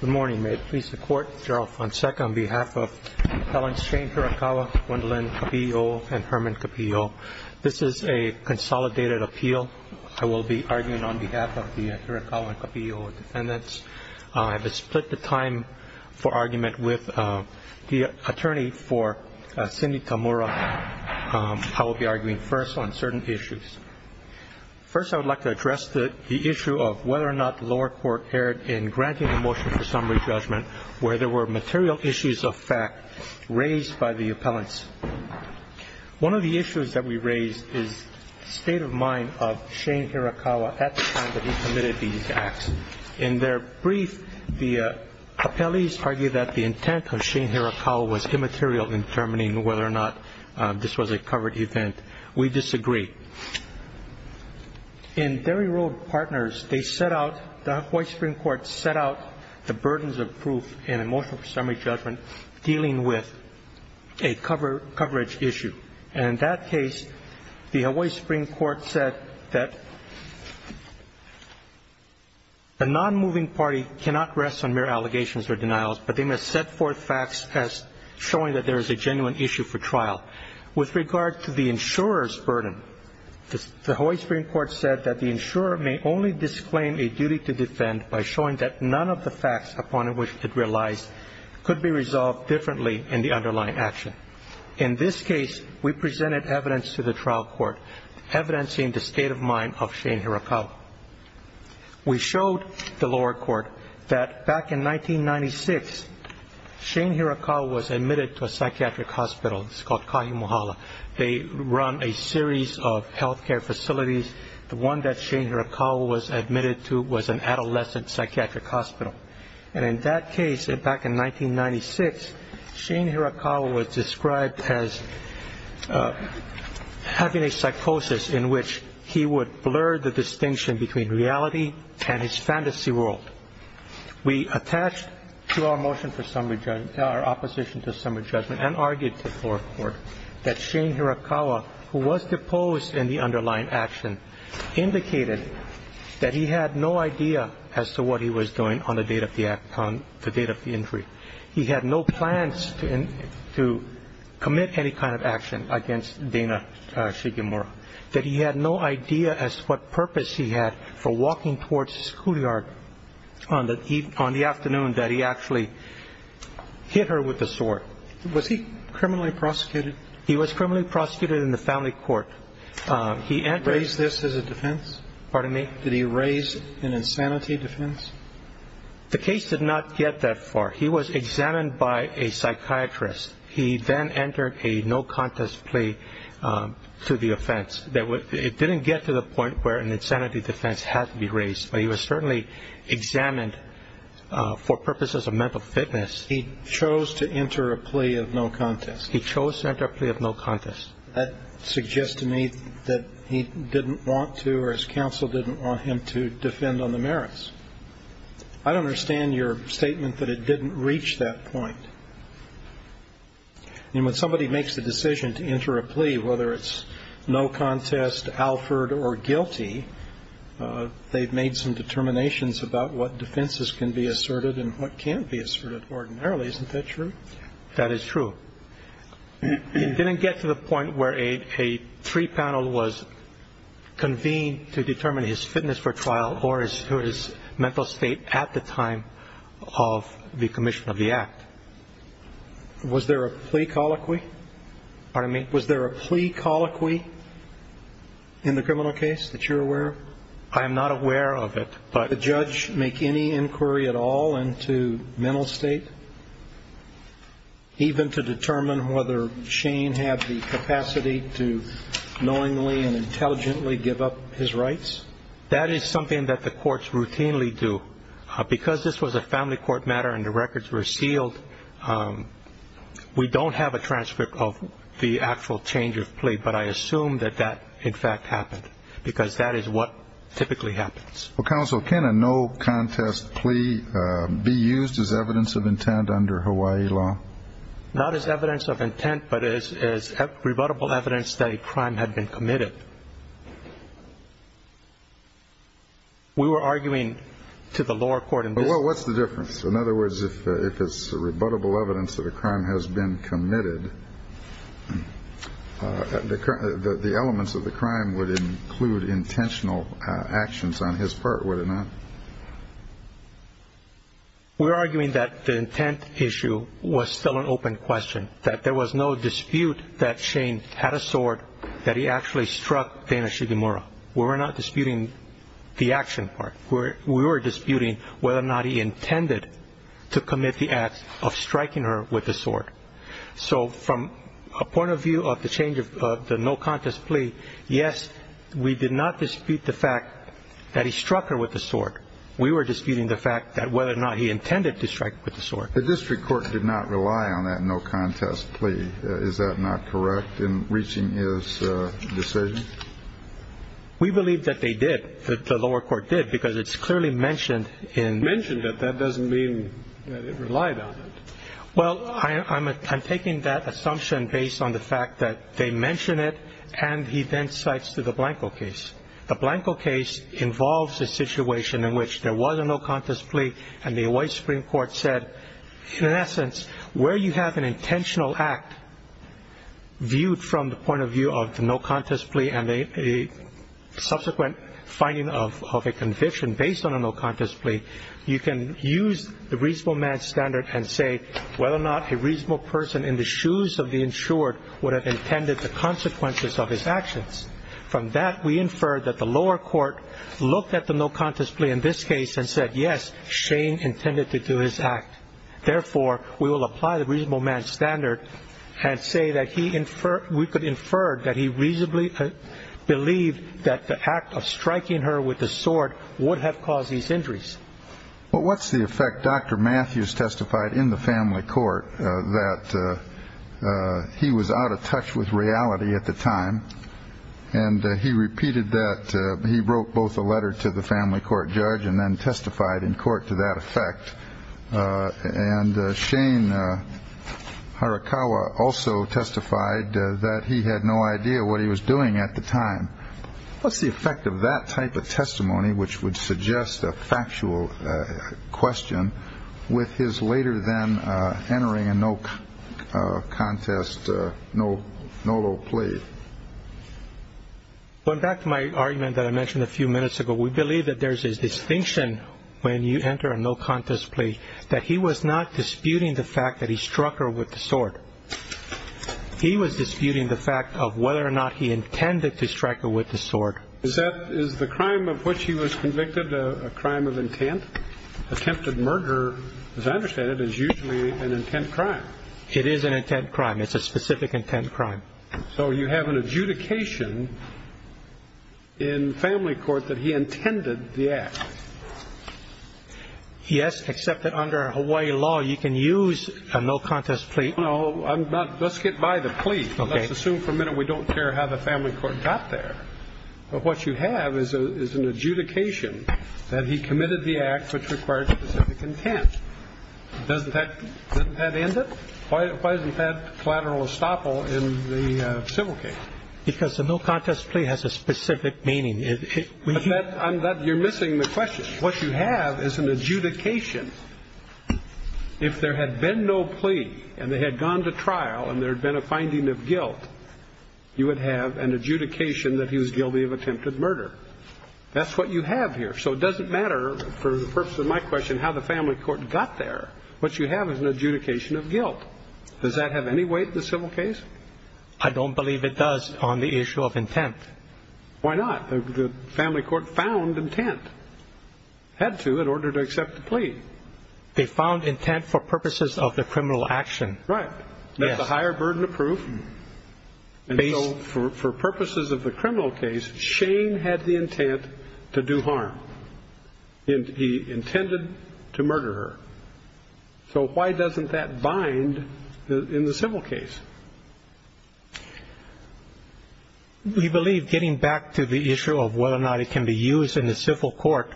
Good morning. May it please the Court, Gerald Fonseca on behalf of Helen Shane Hirakawa, Gwendolyn Capillo, and Herman Capillo. This is a consolidated appeal. I will be arguing on behalf of the Hirakawa and Capillo defendants. I have split the time for argument with the attorney for Cindy Tamura. I will be arguing first on certain issues. First, I would like to address the issue of whether or not the lower court erred in granting a motion for summary judgment where there were material issues of fact raised by the appellants. One of the issues that we raised is the state of mind of Shane Hirakawa at the time that he committed these acts. In their brief, the appellees argued that the intent of Shane Hirakawa was immaterial in determining whether or not this was a covered event. We disagree. In Derry Road Partners, the Hawaii Supreme Court set out the burdens of proof in a motion for summary judgment dealing with a coverage issue. In that case, the Hawaii Supreme Court said that the non-moving party cannot rest on mere allegations or denials, but they must set forth facts as showing that there is a genuine issue for trial. With regard to the insurer's burden, the Hawaii Supreme Court said that the insurer may only disclaim a duty to defend by showing that none of the facts upon which it relies could be resolved differently in the underlying action. In this case, we presented evidence to the trial court, evidencing the state of mind of Shane Hirakawa. We showed the lower court that back in 1996, Shane Hirakawa was admitted to a psychiatric hospital. It's called Kahimuhala. They run a series of health care facilities. The one that Shane Hirakawa was admitted to was an adolescent psychiatric hospital. And in that case, back in 1996, Shane Hirakawa was described as having a psychosis in which he would blur the distinction between reality and his fantasy world. We attached to our motion for summary judgment, our opposition to summary judgment, and argued to the lower court that Shane Hirakawa, who was deposed in the underlying action, indicated that he had no idea as to what he was doing on the date of the act, on the date of the injury. He had no plans to commit any kind of action against Dana Shigemura, that he had no idea as to what purpose he had for walking towards the schoolyard on the afternoon that he actually hit her with the sword. Was he criminally prosecuted? He was criminally prosecuted in the family court. Did he raise this as a defense? Pardon me? Did he raise an insanity defense? The case did not get that far. He was examined by a psychiatrist. He then entered a no-contest plea to the offense. It didn't get to the point where an insanity defense had to be raised, but he was certainly examined for purposes of mental fitness. He chose to enter a plea of no-contest? He chose to enter a plea of no-contest. That suggests to me that he didn't want to or his counsel didn't want him to defend on the merits. I don't understand your statement that it didn't reach that point. I mean, when somebody makes the decision to enter a plea, whether it's no-contest, Alford, or guilty, they've made some determinations about what defenses can be asserted and what can't be asserted ordinarily. Isn't that true? That is true. It didn't get to the point where a three panel was convened to determine his fitness for trial or his mental state at the time of the commission of the act. Was there a plea colloquy? Pardon me? Was there a plea colloquy in the criminal case that you're aware of? I am not aware of it. Did the judge make any inquiry at all into mental state, even to determine whether Shane had the capacity to knowingly and intelligently give up his rights? That is something that the courts routinely do. Because this was a family court matter and the records were sealed, we don't have a transcript of the actual change of plea, but I assume that that, in fact, happened because that is what typically happens. Well, counsel, can a no-contest plea be used as evidence of intent under Hawaii law? Not as evidence of intent, but as rebuttable evidence that a crime had been committed. We were arguing to the lower court in this case. Well, what's the difference? In other words, if it's rebuttable evidence that a crime has been committed, the elements of the crime would include intentional actions on his part, would it not? We're arguing that the intent issue was still an open question, that there was no dispute that Shane had a sword, that he actually struck Dana Shigemura. We were not disputing the action part. We were disputing whether or not he intended to commit the act of striking her with the sword. So from a point of view of the change of the no-contest plea, yes, we did not dispute the fact that he struck her with the sword. We were disputing the fact that whether or not he intended to strike her with the sword. The district court did not rely on that no-contest plea. Is that not correct in reaching his decision? We believe that they did, that the lower court did, because it's clearly mentioned in... Mentioned, but that doesn't mean that it relied on it. Well, I'm taking that assumption based on the fact that they mention it, and he then cites the Blanco case. The Blanco case involves a situation in which there was a no-contest plea, and the Hawaii Supreme Court said, in essence, where you have an intentional act viewed from the point of view of the no-contest plea and a subsequent finding of a conviction based on a no-contest plea, you can use the reasonable man standard and say whether or not a reasonable person in the shoes of the insured would have intended the consequences of his actions. From that, we infer that the lower court looked at the no-contest plea in this case and said, yes, Shane intended to do his act. Therefore, we will apply the reasonable man standard and say that we could infer that he reasonably believed that the act of striking her with the sword would have caused these injuries. Well, what's the effect? Dr. Matthews testified in the family court that he was out of touch with reality at the time, and he repeated that he wrote both a letter to the family court judge and then testified in court to that effect. And Shane Harakawa also testified that he had no idea what he was doing at the time. What's the effect of that type of testimony, which would suggest a factual question, with his later then entering a no-contest, no-law plea? Going back to my argument that I mentioned a few minutes ago, we believe that there's a distinction when you enter a no-contest plea, that he was not disputing the fact that he struck her with the sword. He was disputing the fact of whether or not he intended to strike her with the sword. Is the crime of which he was convicted a crime of intent? Attempted murder, as I understand it, is usually an intent crime. It is an intent crime. It's a specific intent crime. So you have an adjudication in family court that he intended the act. Yes, except that under Hawaii law, you can use a no-contest plea. No, I'm not. Let's get by the plea. Okay. Let's assume for a minute we don't care how the family court got there. But what you have is an adjudication that he committed the act which required specific intent. Doesn't that end it? Why isn't that collateral estoppel in the civil case? Because the no-contest plea has a specific meaning. You're missing the question. What you have is an adjudication. If there had been no plea and they had gone to trial and there had been a finding of guilt, you would have an adjudication that he was guilty of attempted murder. That's what you have here. So it doesn't matter, for the purpose of my question, how the family court got there. What you have is an adjudication of guilt. Does that have any weight in the civil case? I don't believe it does on the issue of intent. Why not? The family court found intent. Had to in order to accept the plea. They found intent for purposes of the criminal action. Right. That's a higher burden of proof. For purposes of the criminal case, Shane had the intent to do harm. He intended to murder her. So why doesn't that bind in the civil case? We believe, getting back to the issue of whether or not it can be used in the civil court,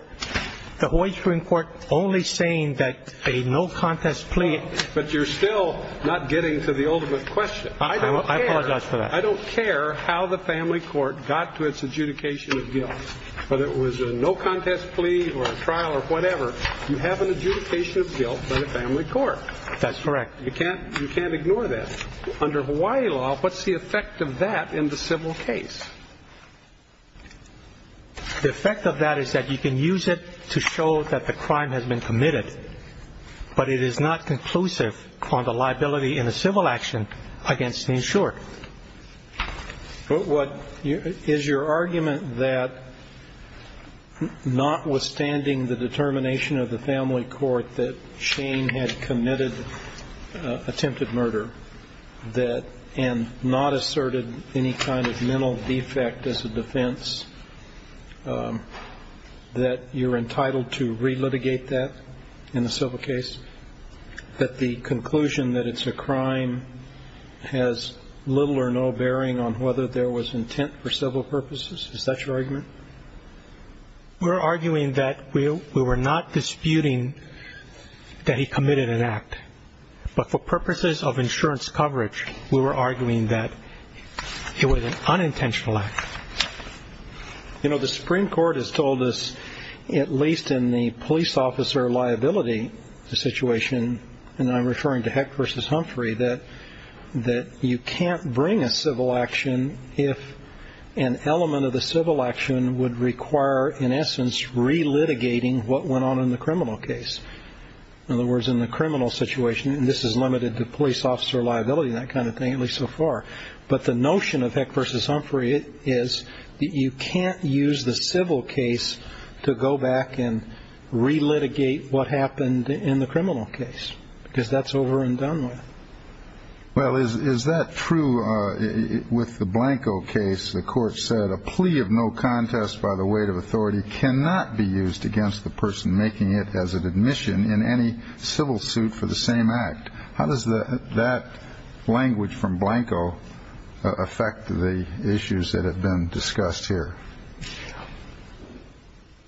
the Hawaii Supreme Court only saying that a no-contest plea. But you're still not getting to the ultimate question. I apologize for that. I don't care how the family court got to its adjudication of guilt, whether it was a no-contest plea or a trial or whatever, you have an adjudication of guilt by the family court. That's correct. You can't ignore that. Under Hawaii law, what's the effect of that in the civil case? The effect of that is that you can use it to show that the crime has been committed, but it is not conclusive on the liability in the civil action against the insured. Is your argument that notwithstanding the determination of the family court that Shane had committed attempted murder and not asserted any kind of mental defect as a defense, that you're entitled to relitigate that in the civil case, that the conclusion that it's a crime has little or no bearing on whether there was intent for civil purposes? Is that your argument? We're arguing that we were not disputing that he committed an act, but for purposes of insurance coverage we were arguing that it was an unintentional act. The Supreme Court has told us, at least in the police officer liability situation, and I'm referring to Heck v. Humphrey, that you can't bring a civil action if an element of the civil action would require, in essence, relitigating what went on in the criminal case. In other words, in the criminal situation, and this is limited to police officer liability and that kind of thing, at least so far, but the notion of Heck v. Humphrey is that you can't use the civil case to go back and relitigate what happened in the criminal case because that's over and done with. Well, is that true with the Blanco case? The court said a plea of no contest by the weight of authority cannot be used against the person making it as an admission in any civil suit for the same act. How does that language from Blanco affect the issues that have been discussed here?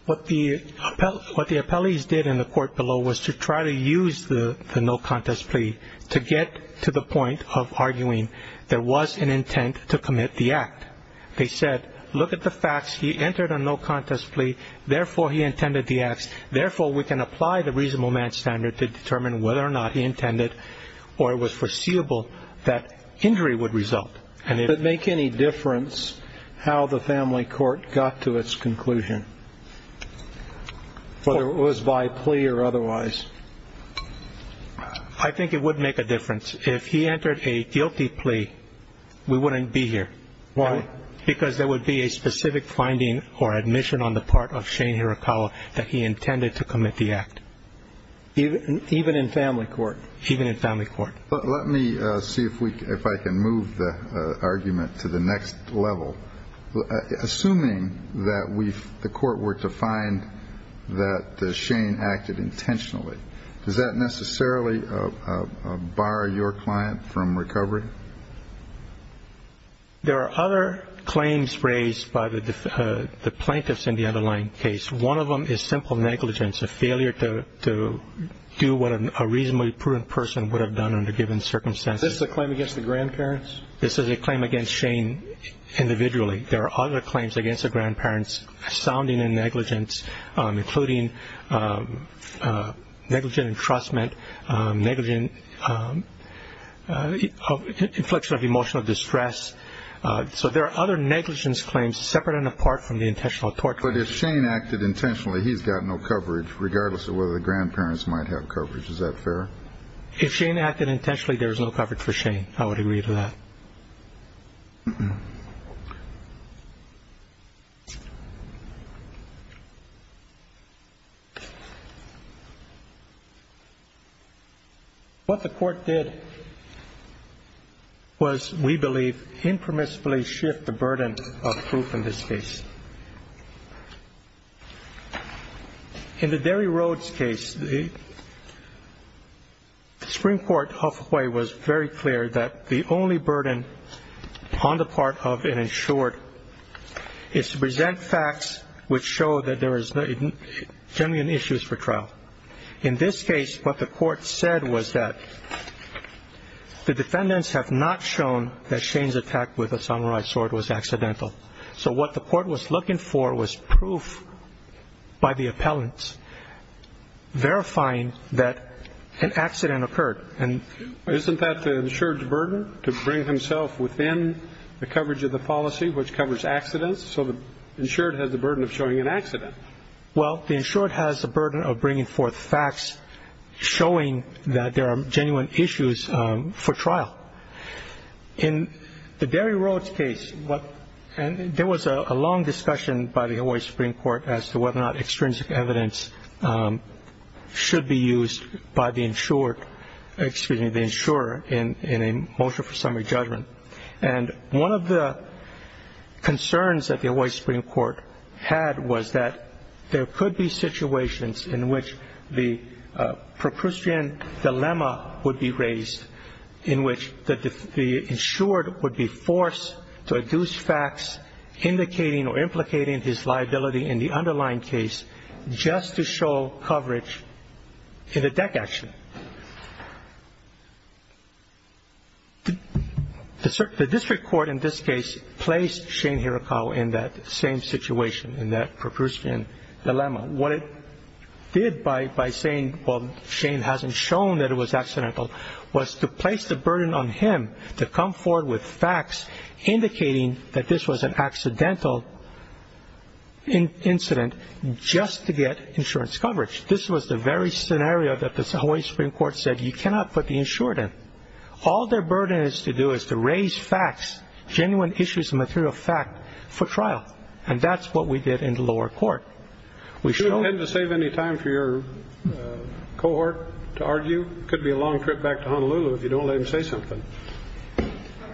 What the appellees did in the court below was to try to use the no contest plea to get to the point of arguing there was an intent to commit the act. They said, look at the facts. He entered a no contest plea. Therefore, he intended the acts. Therefore, we can apply the reasonable man standard to determine whether or not he intended or it was foreseeable that injury would result. Would it make any difference how the family court got to its conclusion, whether it was by plea or otherwise? I think it would make a difference. If he entered a guilty plea, we wouldn't be here. Why? Because there would be a specific finding or admission on the part of Shane Hirakawa that he intended to commit the act. Even in family court? Even in family court. Let me see if I can move the argument to the next level. Assuming that the court were to find that Shane acted intentionally, does that necessarily bar your client from recovery? There are other claims raised by the plaintiffs in the underlying case. One of them is simple negligence, a failure to do what a reasonably prudent person would have done under given circumstances. Is this a claim against the grandparents? This is a claim against Shane individually. There are other claims against the grandparents sounding in negligence, including negligent entrustment, inflection of emotional distress. So there are other negligence claims separate and apart from the intentional tort claim. But if Shane acted intentionally, he's got no coverage, regardless of whether the grandparents might have coverage. Is that fair? If Shane acted intentionally, there is no coverage for Shane. I would agree to that. What the court did was, we believe, impermissibly shift the burden of proof in this case. In the Derry Rhodes case, the Supreme Court of Hawaii was very clear that the only burden on the part of an insured is to present facts which show that there is genuine issues for trial. In this case, what the court said was that the defendants have not shown that Shane's attack with a samurai sword was accidental. So what the court was looking for was proof by the appellants verifying that an accident occurred. Isn't that the insured's burden to bring himself within the coverage of the policy, which covers accidents? So the insured has the burden of showing an accident. Well, the insured has the burden of bringing forth facts showing that there are genuine issues for trial. In the Derry Rhodes case, there was a long discussion by the Hawaii Supreme Court as to whether or not extrinsic evidence should be used by the insured, excuse me, the insurer, in a motion for summary judgment. And one of the concerns that the Hawaii Supreme Court had was that there could be situations in which the Procrucian dilemma would be raised, in which the insured would be forced to adduce facts indicating or implicating his liability in the underlying case just to show coverage in a deck action. The district court in this case placed Shane Hirakawa in that same situation, in that Procrucian dilemma. What it did by saying, well, Shane hasn't shown that it was accidental, was to place the burden on him to come forward with facts indicating that this was an accidental incident just to get insurance coverage. This was the very scenario that the Hawaii Supreme Court said you cannot put the insured in. All their burden is to do is to raise facts, genuine issues and material fact for trial. And that's what we did in the lower court. We showed that. You don't have to save any time for your cohort to argue. It could be a long trip back to Honolulu if you don't let him say something.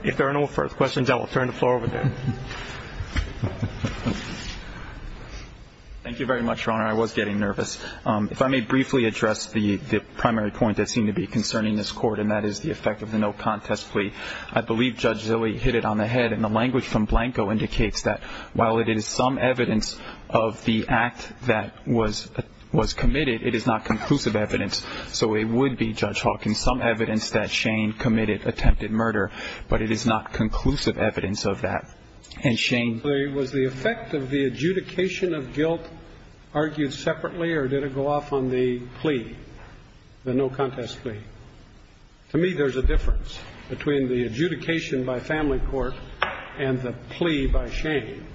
If there are no further questions, I will turn the floor over to him. Thank you very much, Your Honor. I was getting nervous. If I may briefly address the primary point that seemed to be concerning this Court, and that is the effect of the no contest plea. I believe Judge Zilley hit it on the head, and the language from Blanco indicates that while it is some evidence of the act that was committed, it is not conclusive evidence. So it would be, Judge Hawkins, some evidence that Shane committed attempted murder, but it is not conclusive evidence of that. Was the effect of the adjudication of guilt argued separately, or did it go off on the plea, the no contest plea? To me, there's a difference between the adjudication by family court and the plea by Shane.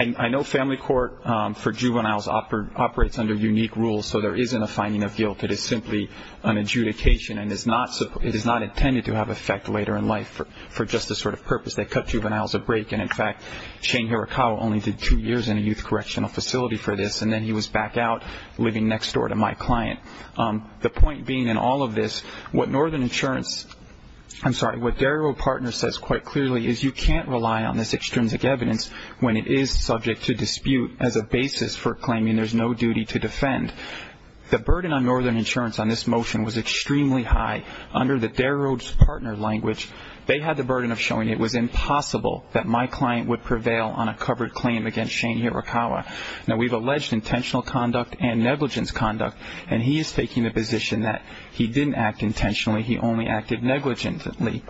I know family court for juveniles operates under unique rules, so there isn't a finding of guilt. It is simply an adjudication, and it is not intended to have effect later in life for just this sort of purpose. They cut juveniles a break, and in fact, Shane Hirakawa only did two years in a youth correctional facility for this, and then he was back out living next door to my client. The point being in all of this, what Northern Insurance, I'm sorry, what Dairy Road Partner says quite clearly is you can't rely on this extrinsic evidence when it is subject to dispute as a basis for claiming there's no duty to defend. The burden on Northern Insurance on this motion was extremely high. Under the Dairy Road Partner language, they had the burden of showing it was impossible that my client would prevail on a covered claim against Shane Hirakawa. Now, we've alleged intentional conduct and negligence conduct, and he is taking the position that he didn't act intentionally. He only acted negligently.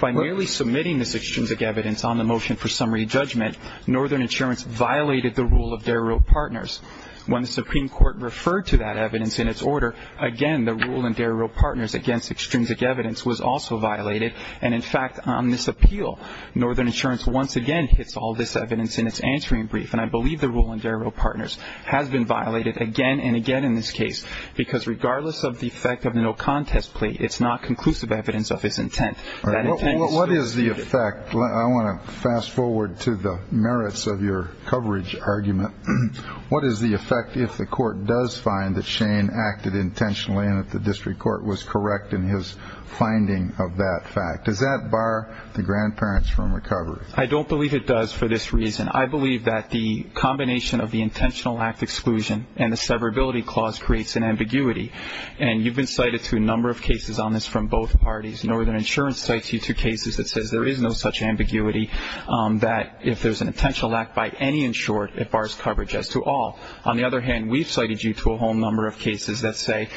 By merely submitting this extrinsic evidence on the motion for summary judgment, Northern Insurance violated the rule of Dairy Road Partners. When the Supreme Court referred to that evidence in its order, again, the rule in Dairy Road Partners against extrinsic evidence was also violated, and in fact, on this appeal, Northern Insurance once again hits all this evidence in its answering brief, and I believe the rule in Dairy Road Partners has been violated again and again in this case because regardless of the effect of the no contest plea, it's not conclusive evidence of his intent. What is the effect? I want to fast forward to the merits of your coverage argument. What is the effect if the court does find that Shane acted intentionally and that the district court was correct in his finding of that fact? Does that bar the grandparents from recovery? I don't believe it does for this reason. I believe that the combination of the intentional act exclusion and the severability clause creates an ambiguity, and you've been cited to a number of cases on this from both parties. Northern Insurance cites you to cases that says there is no such ambiguity, that if there's an intentional act by any insured, it bars coverage as to all. On the other hand, we've cited you to a whole number of cases that say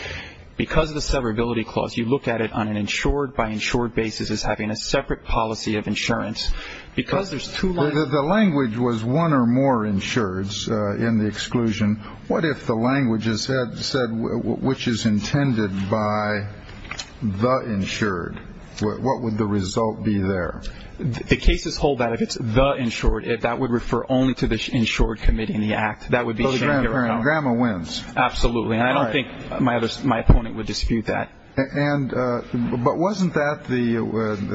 because of the severability clause, you look at it on an insured by insured basis as having a separate policy of insurance. Because there's two lines. The language was one or more insureds in the exclusion. What if the language said which is intended by the insured? What would the result be there? The cases hold that if it's the insured, that would refer only to the insured committee in the act. That would be Shane. Grandma wins. Absolutely. And I don't think my opponent would dispute that. But wasn't that the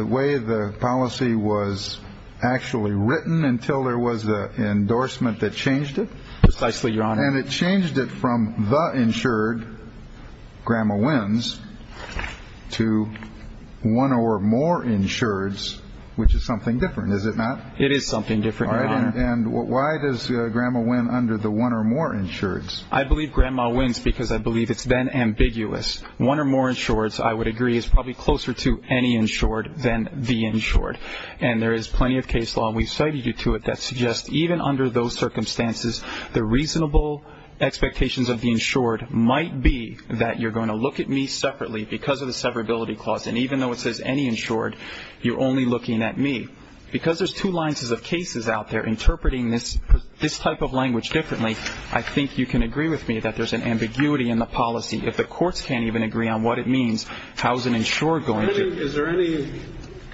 way the policy was actually written until there was an endorsement that changed it? Precisely, Your Honor. And it changed it from the insured, Grandma wins, to one or more insureds, which is something different, is it not? It is something different, Your Honor. And why does Grandma win under the one or more insureds? I believe Grandma wins because I believe it's then ambiguous. One or more insureds, I would agree, is probably closer to any insured than the insured. And there is plenty of case law, and we've cited you to it, that suggests even under those circumstances, the reasonable expectations of the insured might be that you're going to look at me separately because of the severability clause. And even though it says any insured, you're only looking at me. Because there's two lines of cases out there interpreting this type of language differently, I think you can agree with me that there's an ambiguity in the policy. If the courts can't even agree on what it means, how is an insured going to? Is there any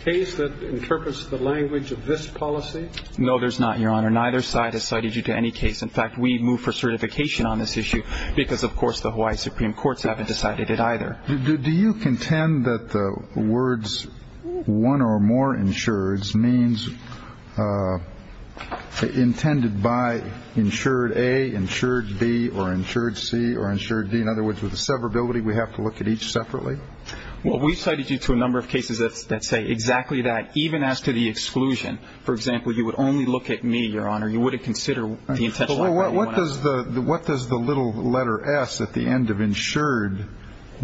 case that interprets the language of this policy? No, there's not, Your Honor. Neither side has cited you to any case. In fact, we moved for certification on this issue because, of course, the Hawaii Supreme Courts haven't decided it either. Do you contend that the words one or more insureds means intended by insured A, insured B, or insured C, or insured D? In other words, with the severability, we have to look at each separately? Well, we've cited you to a number of cases that say exactly that, even as to the exclusion. For example, you would only look at me, Your Honor. You wouldn't consider the intention. Well, what does the little letter S at the end of insured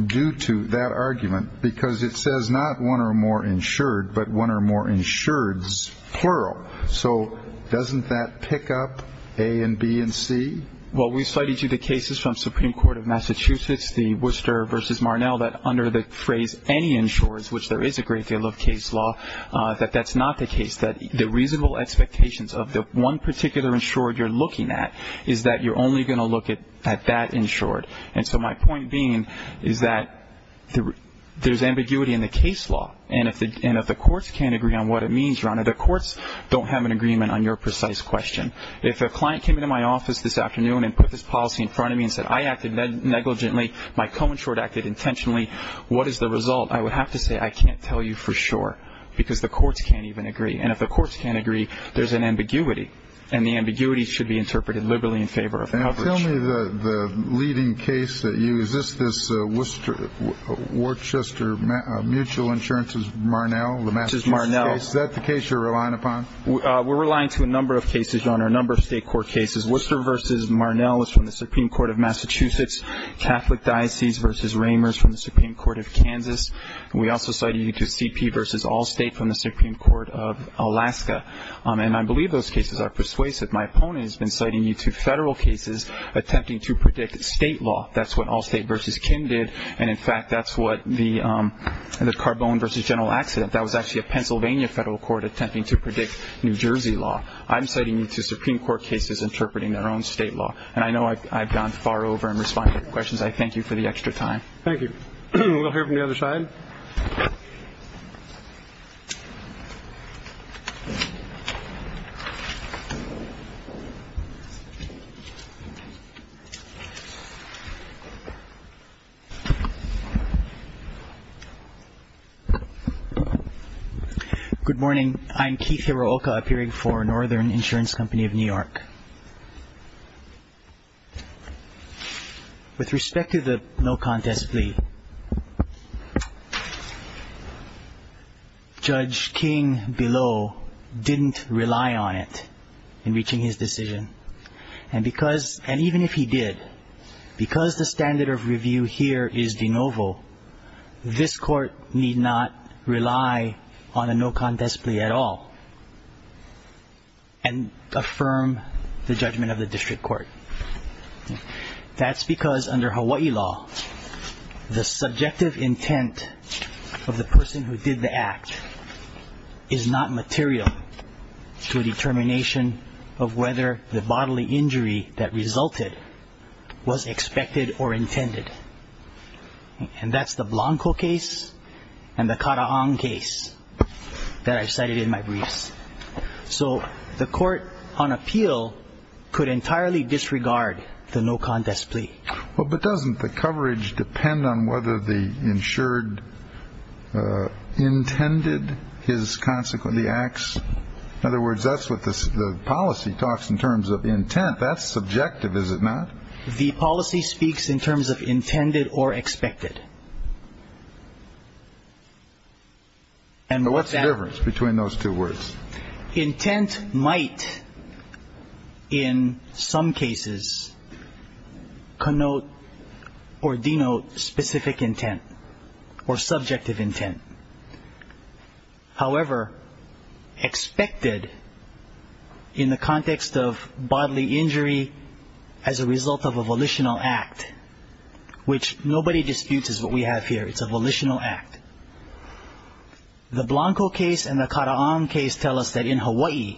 do to that argument? Because it says not one or more insured, but one or more insureds, plural. So doesn't that pick up A and B and C? Well, we've cited you to the cases from Supreme Court of Massachusetts, the Worcester v. Marnell, that under the phrase any insurers, which there is a great deal of case law, that that's not the case, that the reasonable expectations of the one particular insured you're looking at is that you're only going to look at that insured. And so my point being is that there's ambiguity in the case law. And if the courts can't agree on what it means, Your Honor, the courts don't have an agreement on your precise question. If a client came into my office this afternoon and put this policy in front of me and said, I acted negligently, my co-insured acted intentionally, what is the result? I would have to say I can't tell you for sure because the courts can't even agree. And if the courts can't agree, there's an ambiguity. And the ambiguity should be interpreted liberally in favor of coverage. Tell me the leading case that you used. Is this Worcester Mutual Insurance v. Marnell, the Massachusetts case? Is that the case you're relying upon? We're relying to a number of cases, Your Honor, a number of state court cases. Worcester v. Marnell is from the Supreme Court of Massachusetts. Catholic Diocese v. Ramers from the Supreme Court of Kansas. We also cited you to CP v. Allstate from the Supreme Court of Alaska. And I believe those cases are persuasive. My opponent has been citing you to federal cases attempting to predict state law. That's what Allstate v. Kim did. And, in fact, that's what the Carbone v. General accident, that was actually a Pennsylvania federal court attempting to predict New Jersey law. I'm citing you to Supreme Court cases interpreting their own state law. And I know I've gone far over in responding to your questions. I thank you for the extra time. Thank you. We'll hear from the other side. Good morning. I'm Keith Hirooka, appearing for Northern Insurance Company of New York. With respect to the no contest plea, Judge King below didn't rely on it in reaching his decision. And because, and even if he did, because the standard of review here is de novo, this court need not rely on a no contest plea at all and affirm the judgment of the district court. That's because under Hawaii law, the subjective intent of the person who did the act is not material to a determination of whether the bodily injury that resulted was expected or intended. And that's the Blanco case and the Karahong case that I cited in my briefs. So the court on appeal could entirely disregard the no contest plea. But doesn't the coverage depend on whether the insured intended his consequently acts? In other words, that's what the policy talks in terms of intent. That's subjective, is it not? The policy speaks in terms of intended or expected. And what's the difference between those two words? Intent might in some cases connote or denote specific intent or subjective intent. However, expected in the context of bodily injury as a result of a volitional act, which nobody disputes is what we have here, it's a volitional act. The Blanco case and the Karahong case tell us that in Hawaii,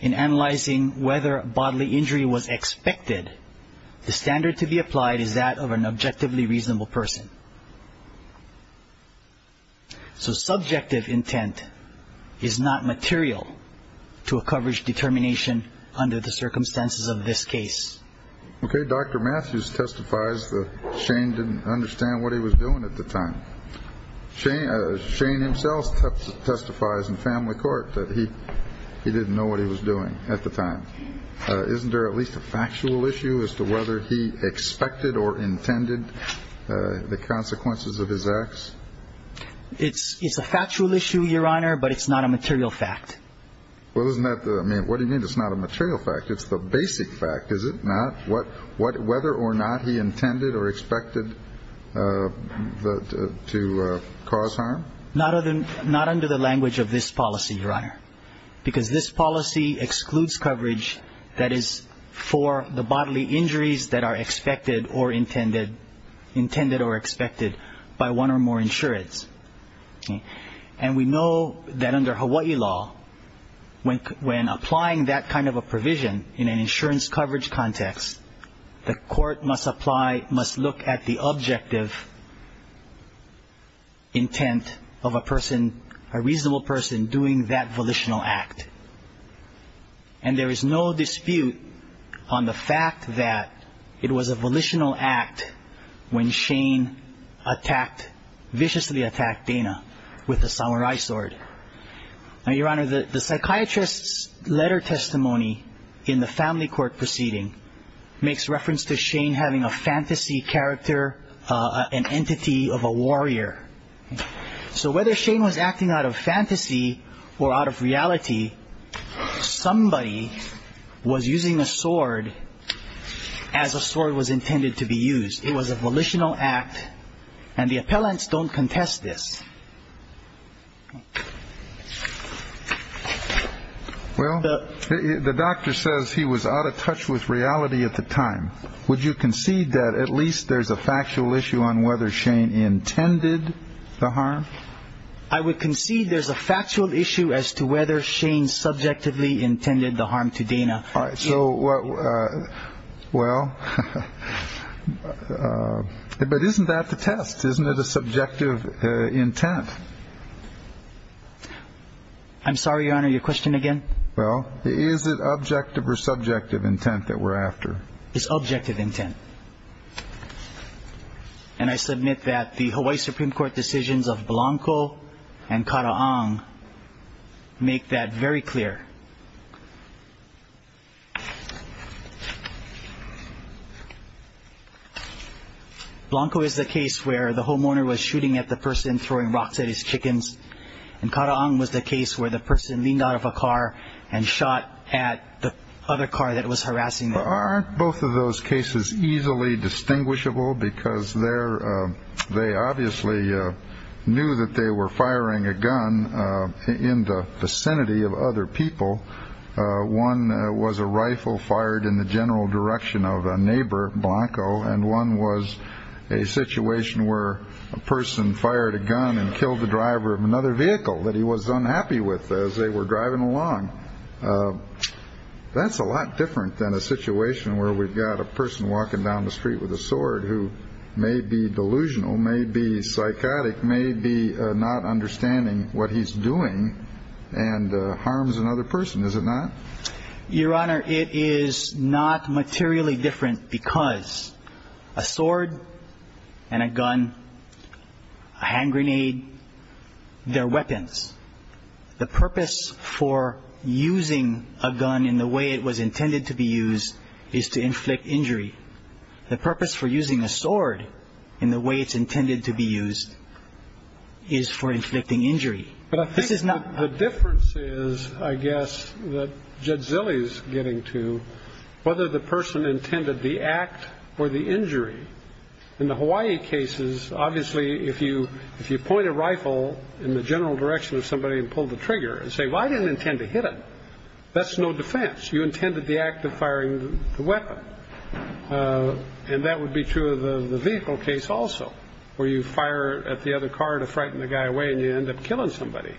in analyzing whether bodily injury was expected, the standard to be applied is that of an objectively reasonable person. So subjective intent is not material to a coverage determination under the circumstances of this case. Okay. Dr. Matthews testifies that Shane didn't understand what he was doing at the time. Shane himself testifies in family court that he didn't know what he was doing at the time. Isn't there at least a factual issue as to whether he expected or intended the consequences of his acts? It's a factual issue, Your Honor, but it's not a material fact. Well, isn't that the – I mean, what do you mean it's not a material fact? It's the basic fact, is it not? Whether or not he intended or expected to cause harm? Not under the language of this policy, Your Honor. Because this policy excludes coverage that is for the bodily injuries that are expected or intended, intended or expected by one or more insurants. And we know that under Hawaii law, when applying that kind of a provision in an insurance coverage context, the court must apply, must look at the objective intent of a person, a reasonable person doing that volitional act. And there is no dispute on the fact that it was a volitional act when Shane attacked, viciously attacked Dana with a samurai sword. Now, Your Honor, the psychiatrist's letter testimony in the family court proceeding makes reference to Shane having a fantasy character, an entity of a warrior. So whether Shane was acting out of fantasy or out of reality, somebody was using a sword as a sword was intended to be used. It was a volitional act. And the appellants don't contest this. Well, the doctor says he was out of touch with reality at the time. Would you concede that at least there's a factual issue on whether Shane intended the harm? I would concede there's a factual issue as to whether Shane subjectively intended the harm to Dana. So, well, but isn't that the test? Isn't it a subjective intent? I'm sorry, Your Honor, your question again? Well, is it objective or subjective intent that we're after? It's objective intent. And I submit that the Hawaii Supreme Court decisions of Blanco and Kata'ang make that very clear. Blanco is the case where the homeowner was shooting at the person throwing rocks at his chickens, and Kata'ang was the case where the person leaned out of a car and shot at the other car that was harassing them. Aren't both of those cases easily distinguishable? Because they obviously knew that they were firing a gun in the vicinity of other people. One was a rifle fired in the general direction of a neighbor, Blanco, and one was a situation where a person fired a gun and killed the driver of another vehicle that he was unhappy with as they were driving along. That's a lot different than a situation where we've got a person walking down the street with a sword who may be delusional, may be psychotic, may be not understanding what he's doing and harms another person. Is it not? Your Honor, it is not materially different because a sword and a gun, a hand grenade, they're weapons. The purpose for using a gun in the way it was intended to be used is to inflict injury. The purpose for using a sword in the way it's intended to be used is for inflicting injury. But I think the difference is, I guess, that Jadzili's getting to whether the person intended the act or the injury. In the Hawaii cases, obviously, if you point a rifle in the general direction of somebody and pull the trigger and say, well, I didn't intend to hit him, that's no defense. You intended the act of firing the weapon. And that would be true of the vehicle case also, where you fire at the other car to frighten the guy away and you end up killing somebody.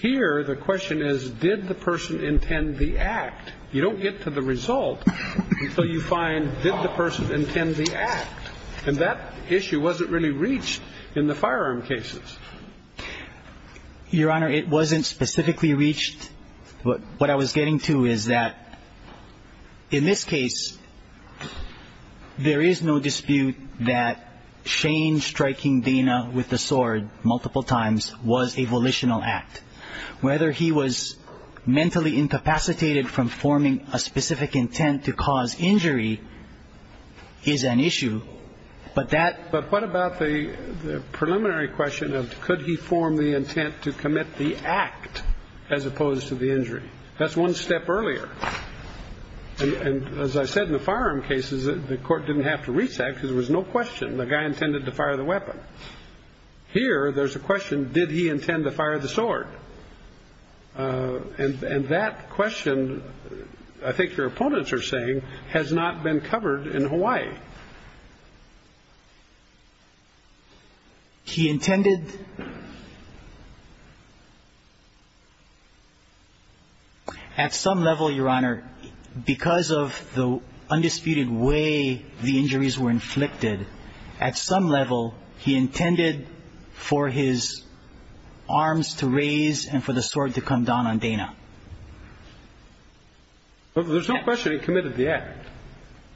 Here, the question is, did the person intend the act? You don't get to the result until you find, did the person intend the act? And that issue wasn't really reached in the firearm cases. Your Honor, it wasn't specifically reached. What I was getting to is that in this case, there is no dispute that Shane striking Dana with the sword multiple times was a volitional act. Whether he was mentally incapacitated from forming a specific intent to cause injury is an issue. But what about the preliminary question of could he form the intent to commit the act as opposed to the injury? That's one step earlier. And as I said in the firearm cases, the court didn't have to reach that because there was no question the guy intended to fire the weapon. Here, there's a question, did he intend to fire the sword? And that question, I think your opponents are saying, has not been covered in Hawaii. He intended. At some level, Your Honor, because of the undisputed way the injuries were inflicted, at some level he intended for his arms to raise and for the sword to come down on Dana. There's no question he committed the act.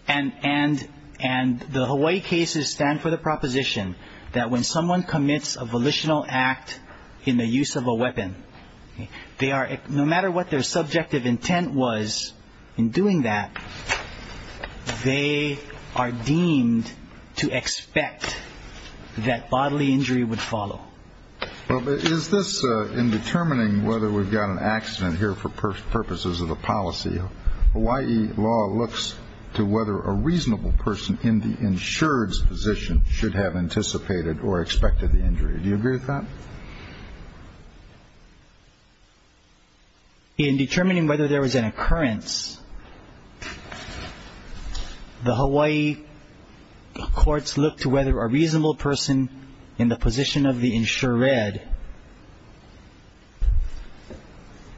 And the Hawaii cases stand for the proposition that when someone commits a volitional act in the use of a weapon, no matter what their subjective intent was in doing that, they are deemed to expect that bodily injury would follow. Well, is this in determining whether we've got an accident here for purposes of the policy, Hawaii law looks to whether a reasonable person in the insured's position should have anticipated or expected the injury. Do you agree with that? In determining whether there was an occurrence, the Hawaii courts look to whether a reasonable person in the position of the insured,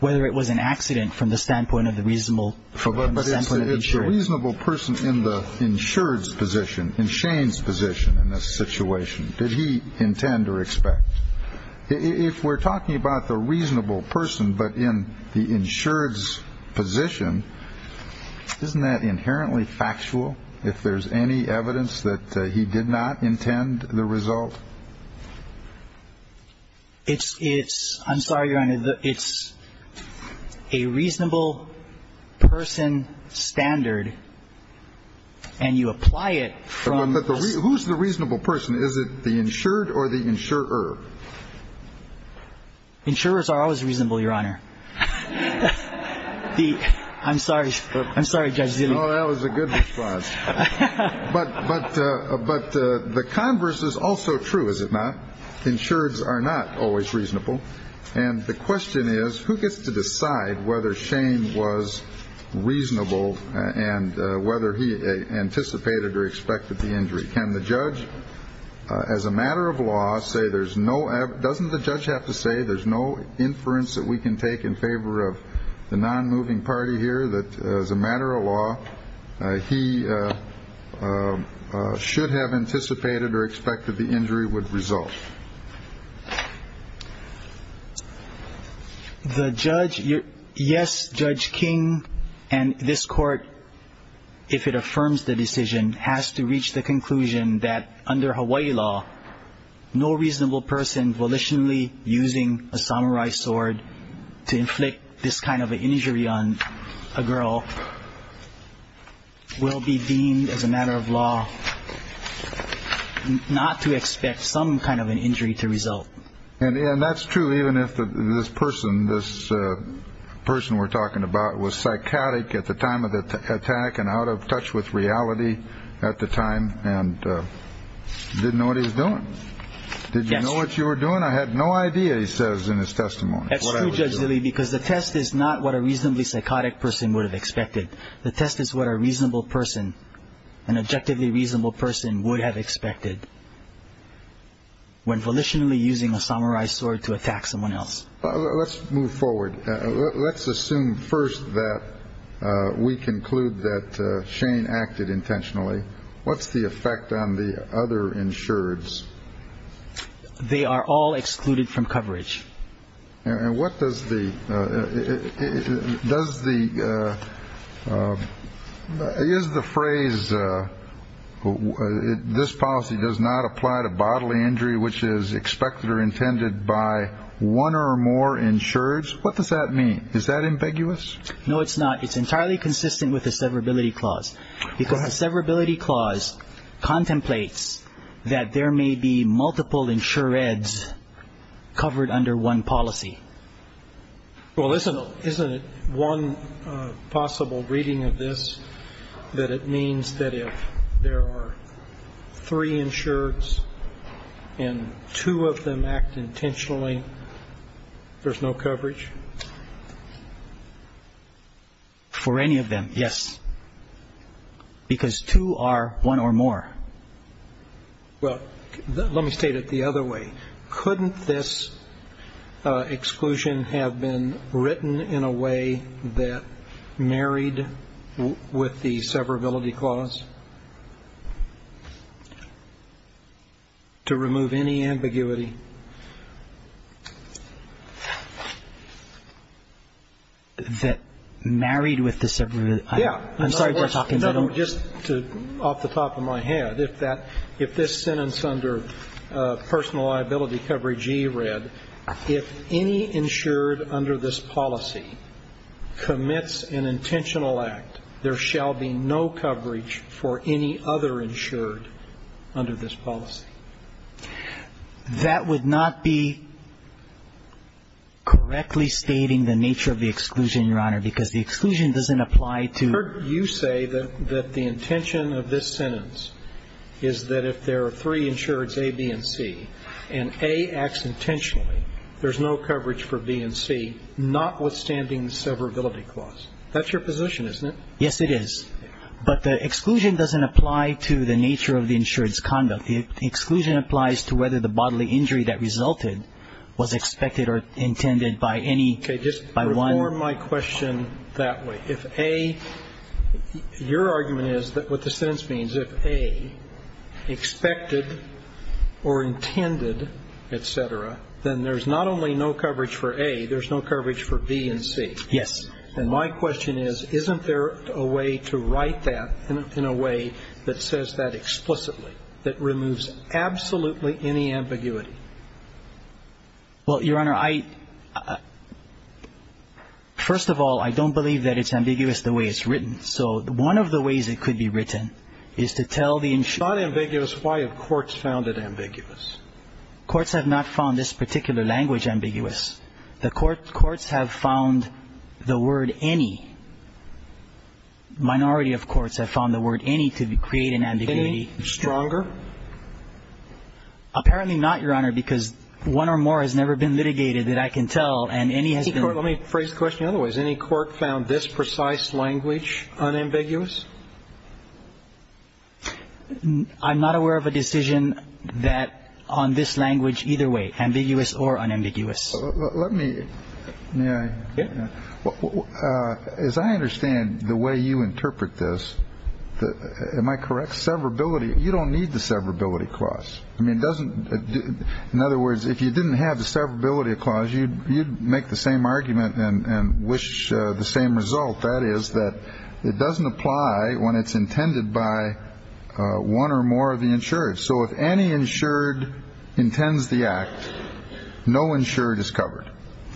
whether it was an accident from the standpoint of the reasonable from the standpoint of the insured. A reasonable person in the insured's position, in Shane's position in this situation, did he intend or expect? If we're talking about the reasonable person, but in the insured's position, isn't that inherently factual if there's any evidence that he did not intend the result? It's, it's, I'm sorry, Your Honor, it's a reasonable person standard and you apply it from. Who's the reasonable person? Is it the insured or the insurer? Insurers are always reasonable, Your Honor. I'm sorry. I'm sorry, Judge. Oh, that was a good response. But, but, but the converse is also true, is it not? Insureds are not always reasonable. And the question is, who gets to decide whether Shane was reasonable and whether he anticipated or expected the injury? Can the judge, as a matter of law, say there's no, doesn't the judge have to say there's no inference that we can take in favor of the non-moving party here? That as a matter of law, he should have anticipated or expected the injury would result? The judge, yes, Judge King and this court, if it affirms the decision, has to reach the conclusion that under Hawaii law, no reasonable person volitionally using a samurai sword to inflict this kind of an injury on a girl will be deemed as a matter of law, not to expect some kind of an injury to result. And that's true even if this person, this person we're talking about, was psychotic at the time of the attack and out of touch with reality at the time and didn't know what he was doing. Did you know what you were doing? I had no idea. He says in his testimony. That's true, Judge, really, because the test is not what a reasonably psychotic person would have expected. The test is what a reasonable person, an objectively reasonable person, would have expected when volitionally using a samurai sword to attack someone else. Let's move forward. Let's assume first that we conclude that Shane acted intentionally. What's the effect on the other insureds? They are all excluded from coverage. And what does the, does the, is the phrase, this policy does not apply to bodily injury, which is expected or intended by one or more insureds. What does that mean? Is that ambiguous? No, it's not. It's entirely consistent with the severability clause, because the severability clause contemplates that there may be multiple insureds covered under one policy. Well, isn't it one possible reading of this that it means that if there are three insureds and two of them act intentionally, there's no coverage? For any of them, yes. Because two are one or more. Well, let me state it the other way. Couldn't this exclusion have been written in a way that married with the severability clause? To remove any ambiguity. That married with the severability clause? Yeah. Just off the top of my head, if this sentence under personal liability coverage E read, if any insured under this policy commits an intentional act, there shall be no coverage for any other insured under this policy. That would not be correctly stating the nature of the exclusion, Your Honor, because the exclusion doesn't apply to. I've heard you say that the intention of this sentence is that if there are three insureds, A, B, and C, and A acts intentionally, there's no coverage for B and C, notwithstanding the severability clause. That's your position, isn't it? Yes, it is. But the exclusion doesn't apply to the nature of the insured's conduct. The exclusion applies to whether the bodily injury that resulted was expected or intended by any, by one. Or my question that way. If A, your argument is that what the sentence means, if A, expected or intended, et cetera, then there's not only no coverage for A, there's no coverage for B and C. Yes. And my question is, isn't there a way to write that in a way that says that explicitly, that removes absolutely any ambiguity? Well, Your Honor, I, first of all, I don't believe that it's ambiguous the way it's written. So one of the ways it could be written is to tell the insured. If it's not ambiguous, why have courts found it ambiguous? Courts have not found this particular language ambiguous. The courts have found the word any, minority of courts have found the word any to create an ambiguity. Any, stronger? Apparently not, Your Honor, because one or more has never been litigated that I can tell. And any has been. Let me phrase the question in other ways. Any court found this precise language unambiguous? I'm not aware of a decision that on this language either way, ambiguous or unambiguous. Let me, may I? Yes. As I understand the way you interpret this, am I correct, severability, you don't need the severability clause. I mean, it doesn't, in other words, if you didn't have the severability clause, you'd make the same argument and wish the same result. That is that it doesn't apply when it's intended by one or more of the insured. So if any insured intends the act, no insured is covered.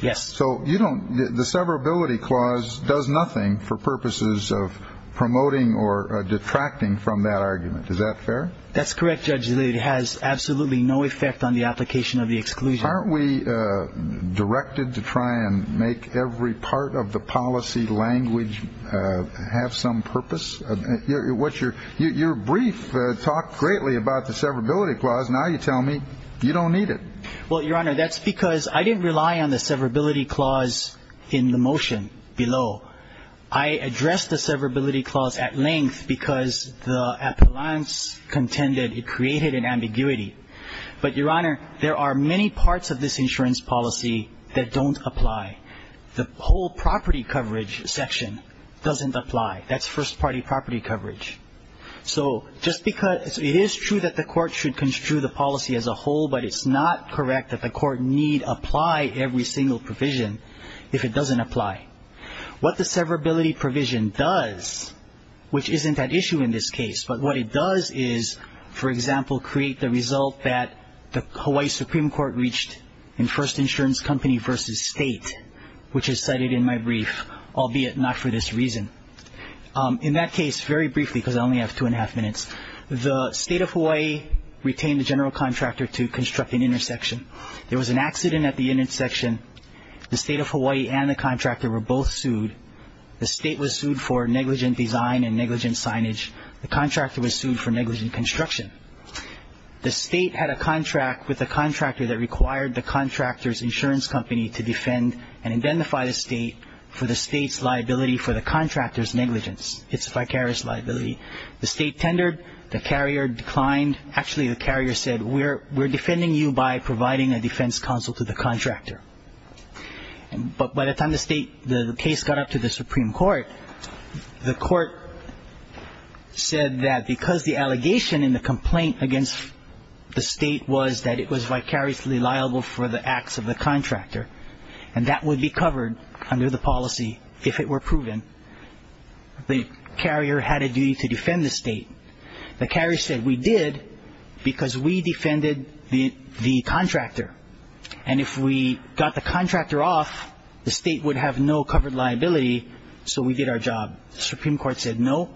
Yes. So you don't, the severability clause does nothing for purposes of promoting or detracting from that argument. Is that fair? That's correct, Judge. It has absolutely no effect on the application of the exclusion. Aren't we directed to try and make every part of the policy language have some purpose? Your brief talked greatly about the severability clause. Now you tell me you don't need it. Well, Your Honor, that's because I didn't rely on the severability clause in the motion below. So I addressed the severability clause at length because the appellants contended it created an ambiguity. But, Your Honor, there are many parts of this insurance policy that don't apply. The whole property coverage section doesn't apply. That's first-party property coverage. So just because it is true that the court should construe the policy as a whole, but it's not correct that the court need apply every single provision if it doesn't apply. What the severability provision does, which isn't at issue in this case, but what it does is, for example, create the result that the Hawaii Supreme Court reached in First Insurance Company v. State, which is cited in my brief, albeit not for this reason. In that case, very briefly, because I only have two and a half minutes, the State of Hawaii retained the general contractor to construct an intersection. There was an accident at the intersection. The State of Hawaii and the contractor were both sued. The State was sued for negligent design and negligent signage. The contractor was sued for negligent construction. The State had a contract with a contractor that required the contractor's insurance company to defend and identify the State for the State's liability for the contractor's negligence. It's a vicarious liability. The State tendered. The carrier declined. Actually, the carrier said, we're defending you by providing a defense counsel to the contractor. But by the time the case got up to the Supreme Court, the court said that because the allegation in the complaint against the State was that it was vicariously liable for the acts of the contractor, and that would be covered under the policy if it were proven, the carrier had a duty to defend the State. The carrier said, we did because we defended the contractor. And if we got the contractor off, the State would have no covered liability, so we did our job. The Supreme Court said, no.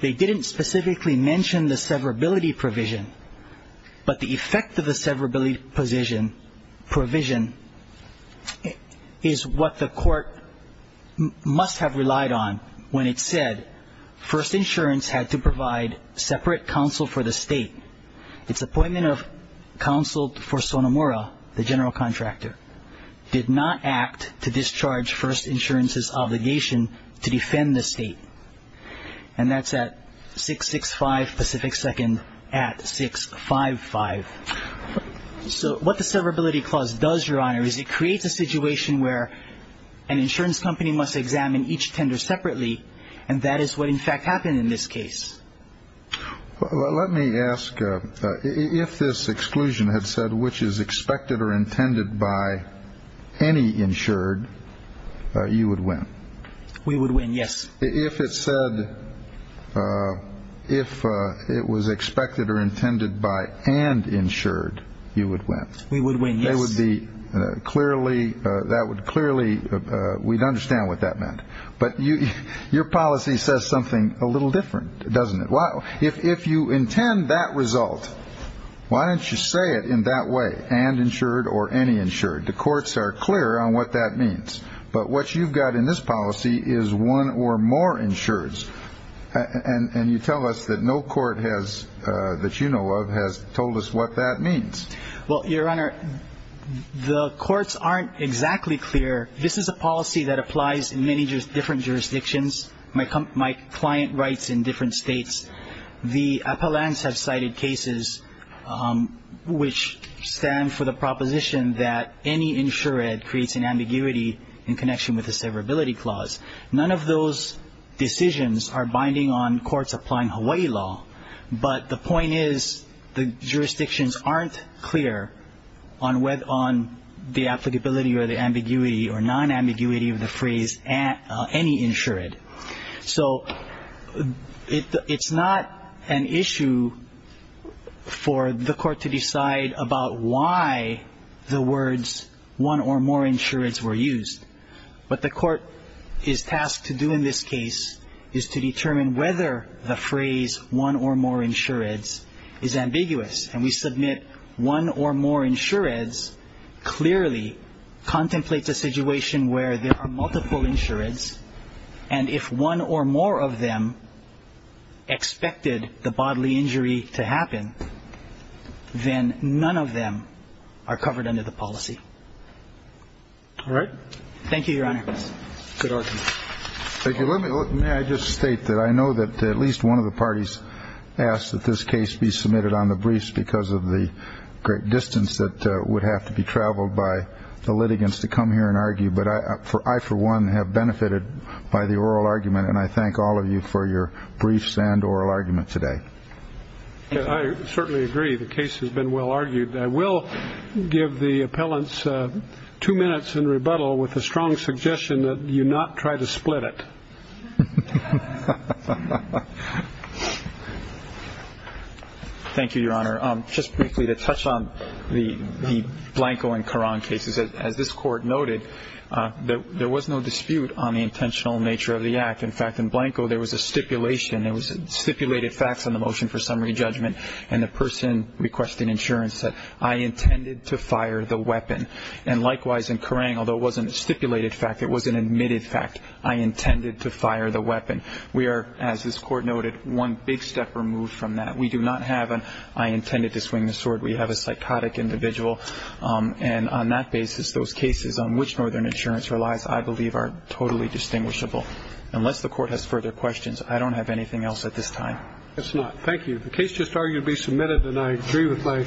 They didn't specifically mention the severability provision, but the effect of the severability provision is what the court must have relied on when it said First Insurance had to provide separate counsel for the State. Its appointment of counsel for Sonomura, the general contractor, did not act to discharge First Insurance's obligation to defend the State. And that's at 665 Pacific Second at 655. So what the severability clause does, Your Honor, is it creates a situation where an insurance company must examine each tender separately, and that is what, in fact, happened in this case. Let me ask, if this exclusion had said which is expected or intended by any insured, you would win. We would win, yes. If it said if it was expected or intended by and insured, you would win. We would win, yes. That would be clearly we'd understand what that meant. But your policy says something a little different, doesn't it? If you intend that result, why don't you say it in that way, and insured or any insured? The courts are clear on what that means. But what you've got in this policy is one or more insureds. And you tell us that no court has, that you know of, has told us what that means. Well, Your Honor, the courts aren't exactly clear. This is a policy that applies in many different jurisdictions. My client writes in different states. The appellants have cited cases which stand for the proposition that any insured creates an ambiguity in connection with a severability clause. None of those decisions are binding on courts applying Hawaii law. But the point is the jurisdictions aren't clear on the applicability or the ambiguity or non-ambiguity of the phrase any insured. So it's not an issue for the court to decide about why the words one or more insureds were used. What the court is tasked to do in this case is to determine whether the phrase one or more insureds is ambiguous. And we submit one or more insureds clearly contemplates a situation where there are multiple insureds. And if one or more of them expected the bodily injury to happen, then none of them are covered under the policy. All right. Thank you, Your Honor. Good argument. Thank you. May I just state that I know that at least one of the parties asked that this case be submitted on the briefs because of the great distance that would have to be traveled by the litigants to come here and argue. But I, for one, have benefited by the oral argument, and I thank all of you for your briefs and oral argument today. I certainly agree. The case has been well argued. I will give the appellants two minutes in rebuttal with a strong suggestion that you not try to split it. Thank you, Your Honor. Just briefly to touch on the Blanco and Caron cases. As this Court noted, there was no dispute on the intentional nature of the act. In fact, in Blanco, there was a stipulation. There was stipulated facts on the motion for summary judgment, and the person requesting insurance said, I intended to fire the weapon. And likewise, in Caron, although it wasn't a stipulated fact, it was an admitted fact. I intended to fire the weapon. We are, as this Court noted, one big step removed from that. We do not have an I intended to swing the sword. We have a psychotic individual. And on that basis, those cases on which Northern Insurance relies, I believe, are totally distinguishable. Unless the Court has further questions, I don't have anything else at this time. It's not. Thank you. The case just argued to be submitted, and I agree with my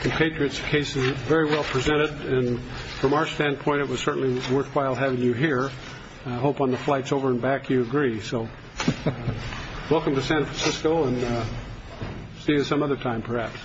compatriots. The case is very well presented. And from our standpoint, it was certainly worthwhile having you here. I hope on the flights over and back you agree. So welcome to San Francisco, and see you some other time, perhaps.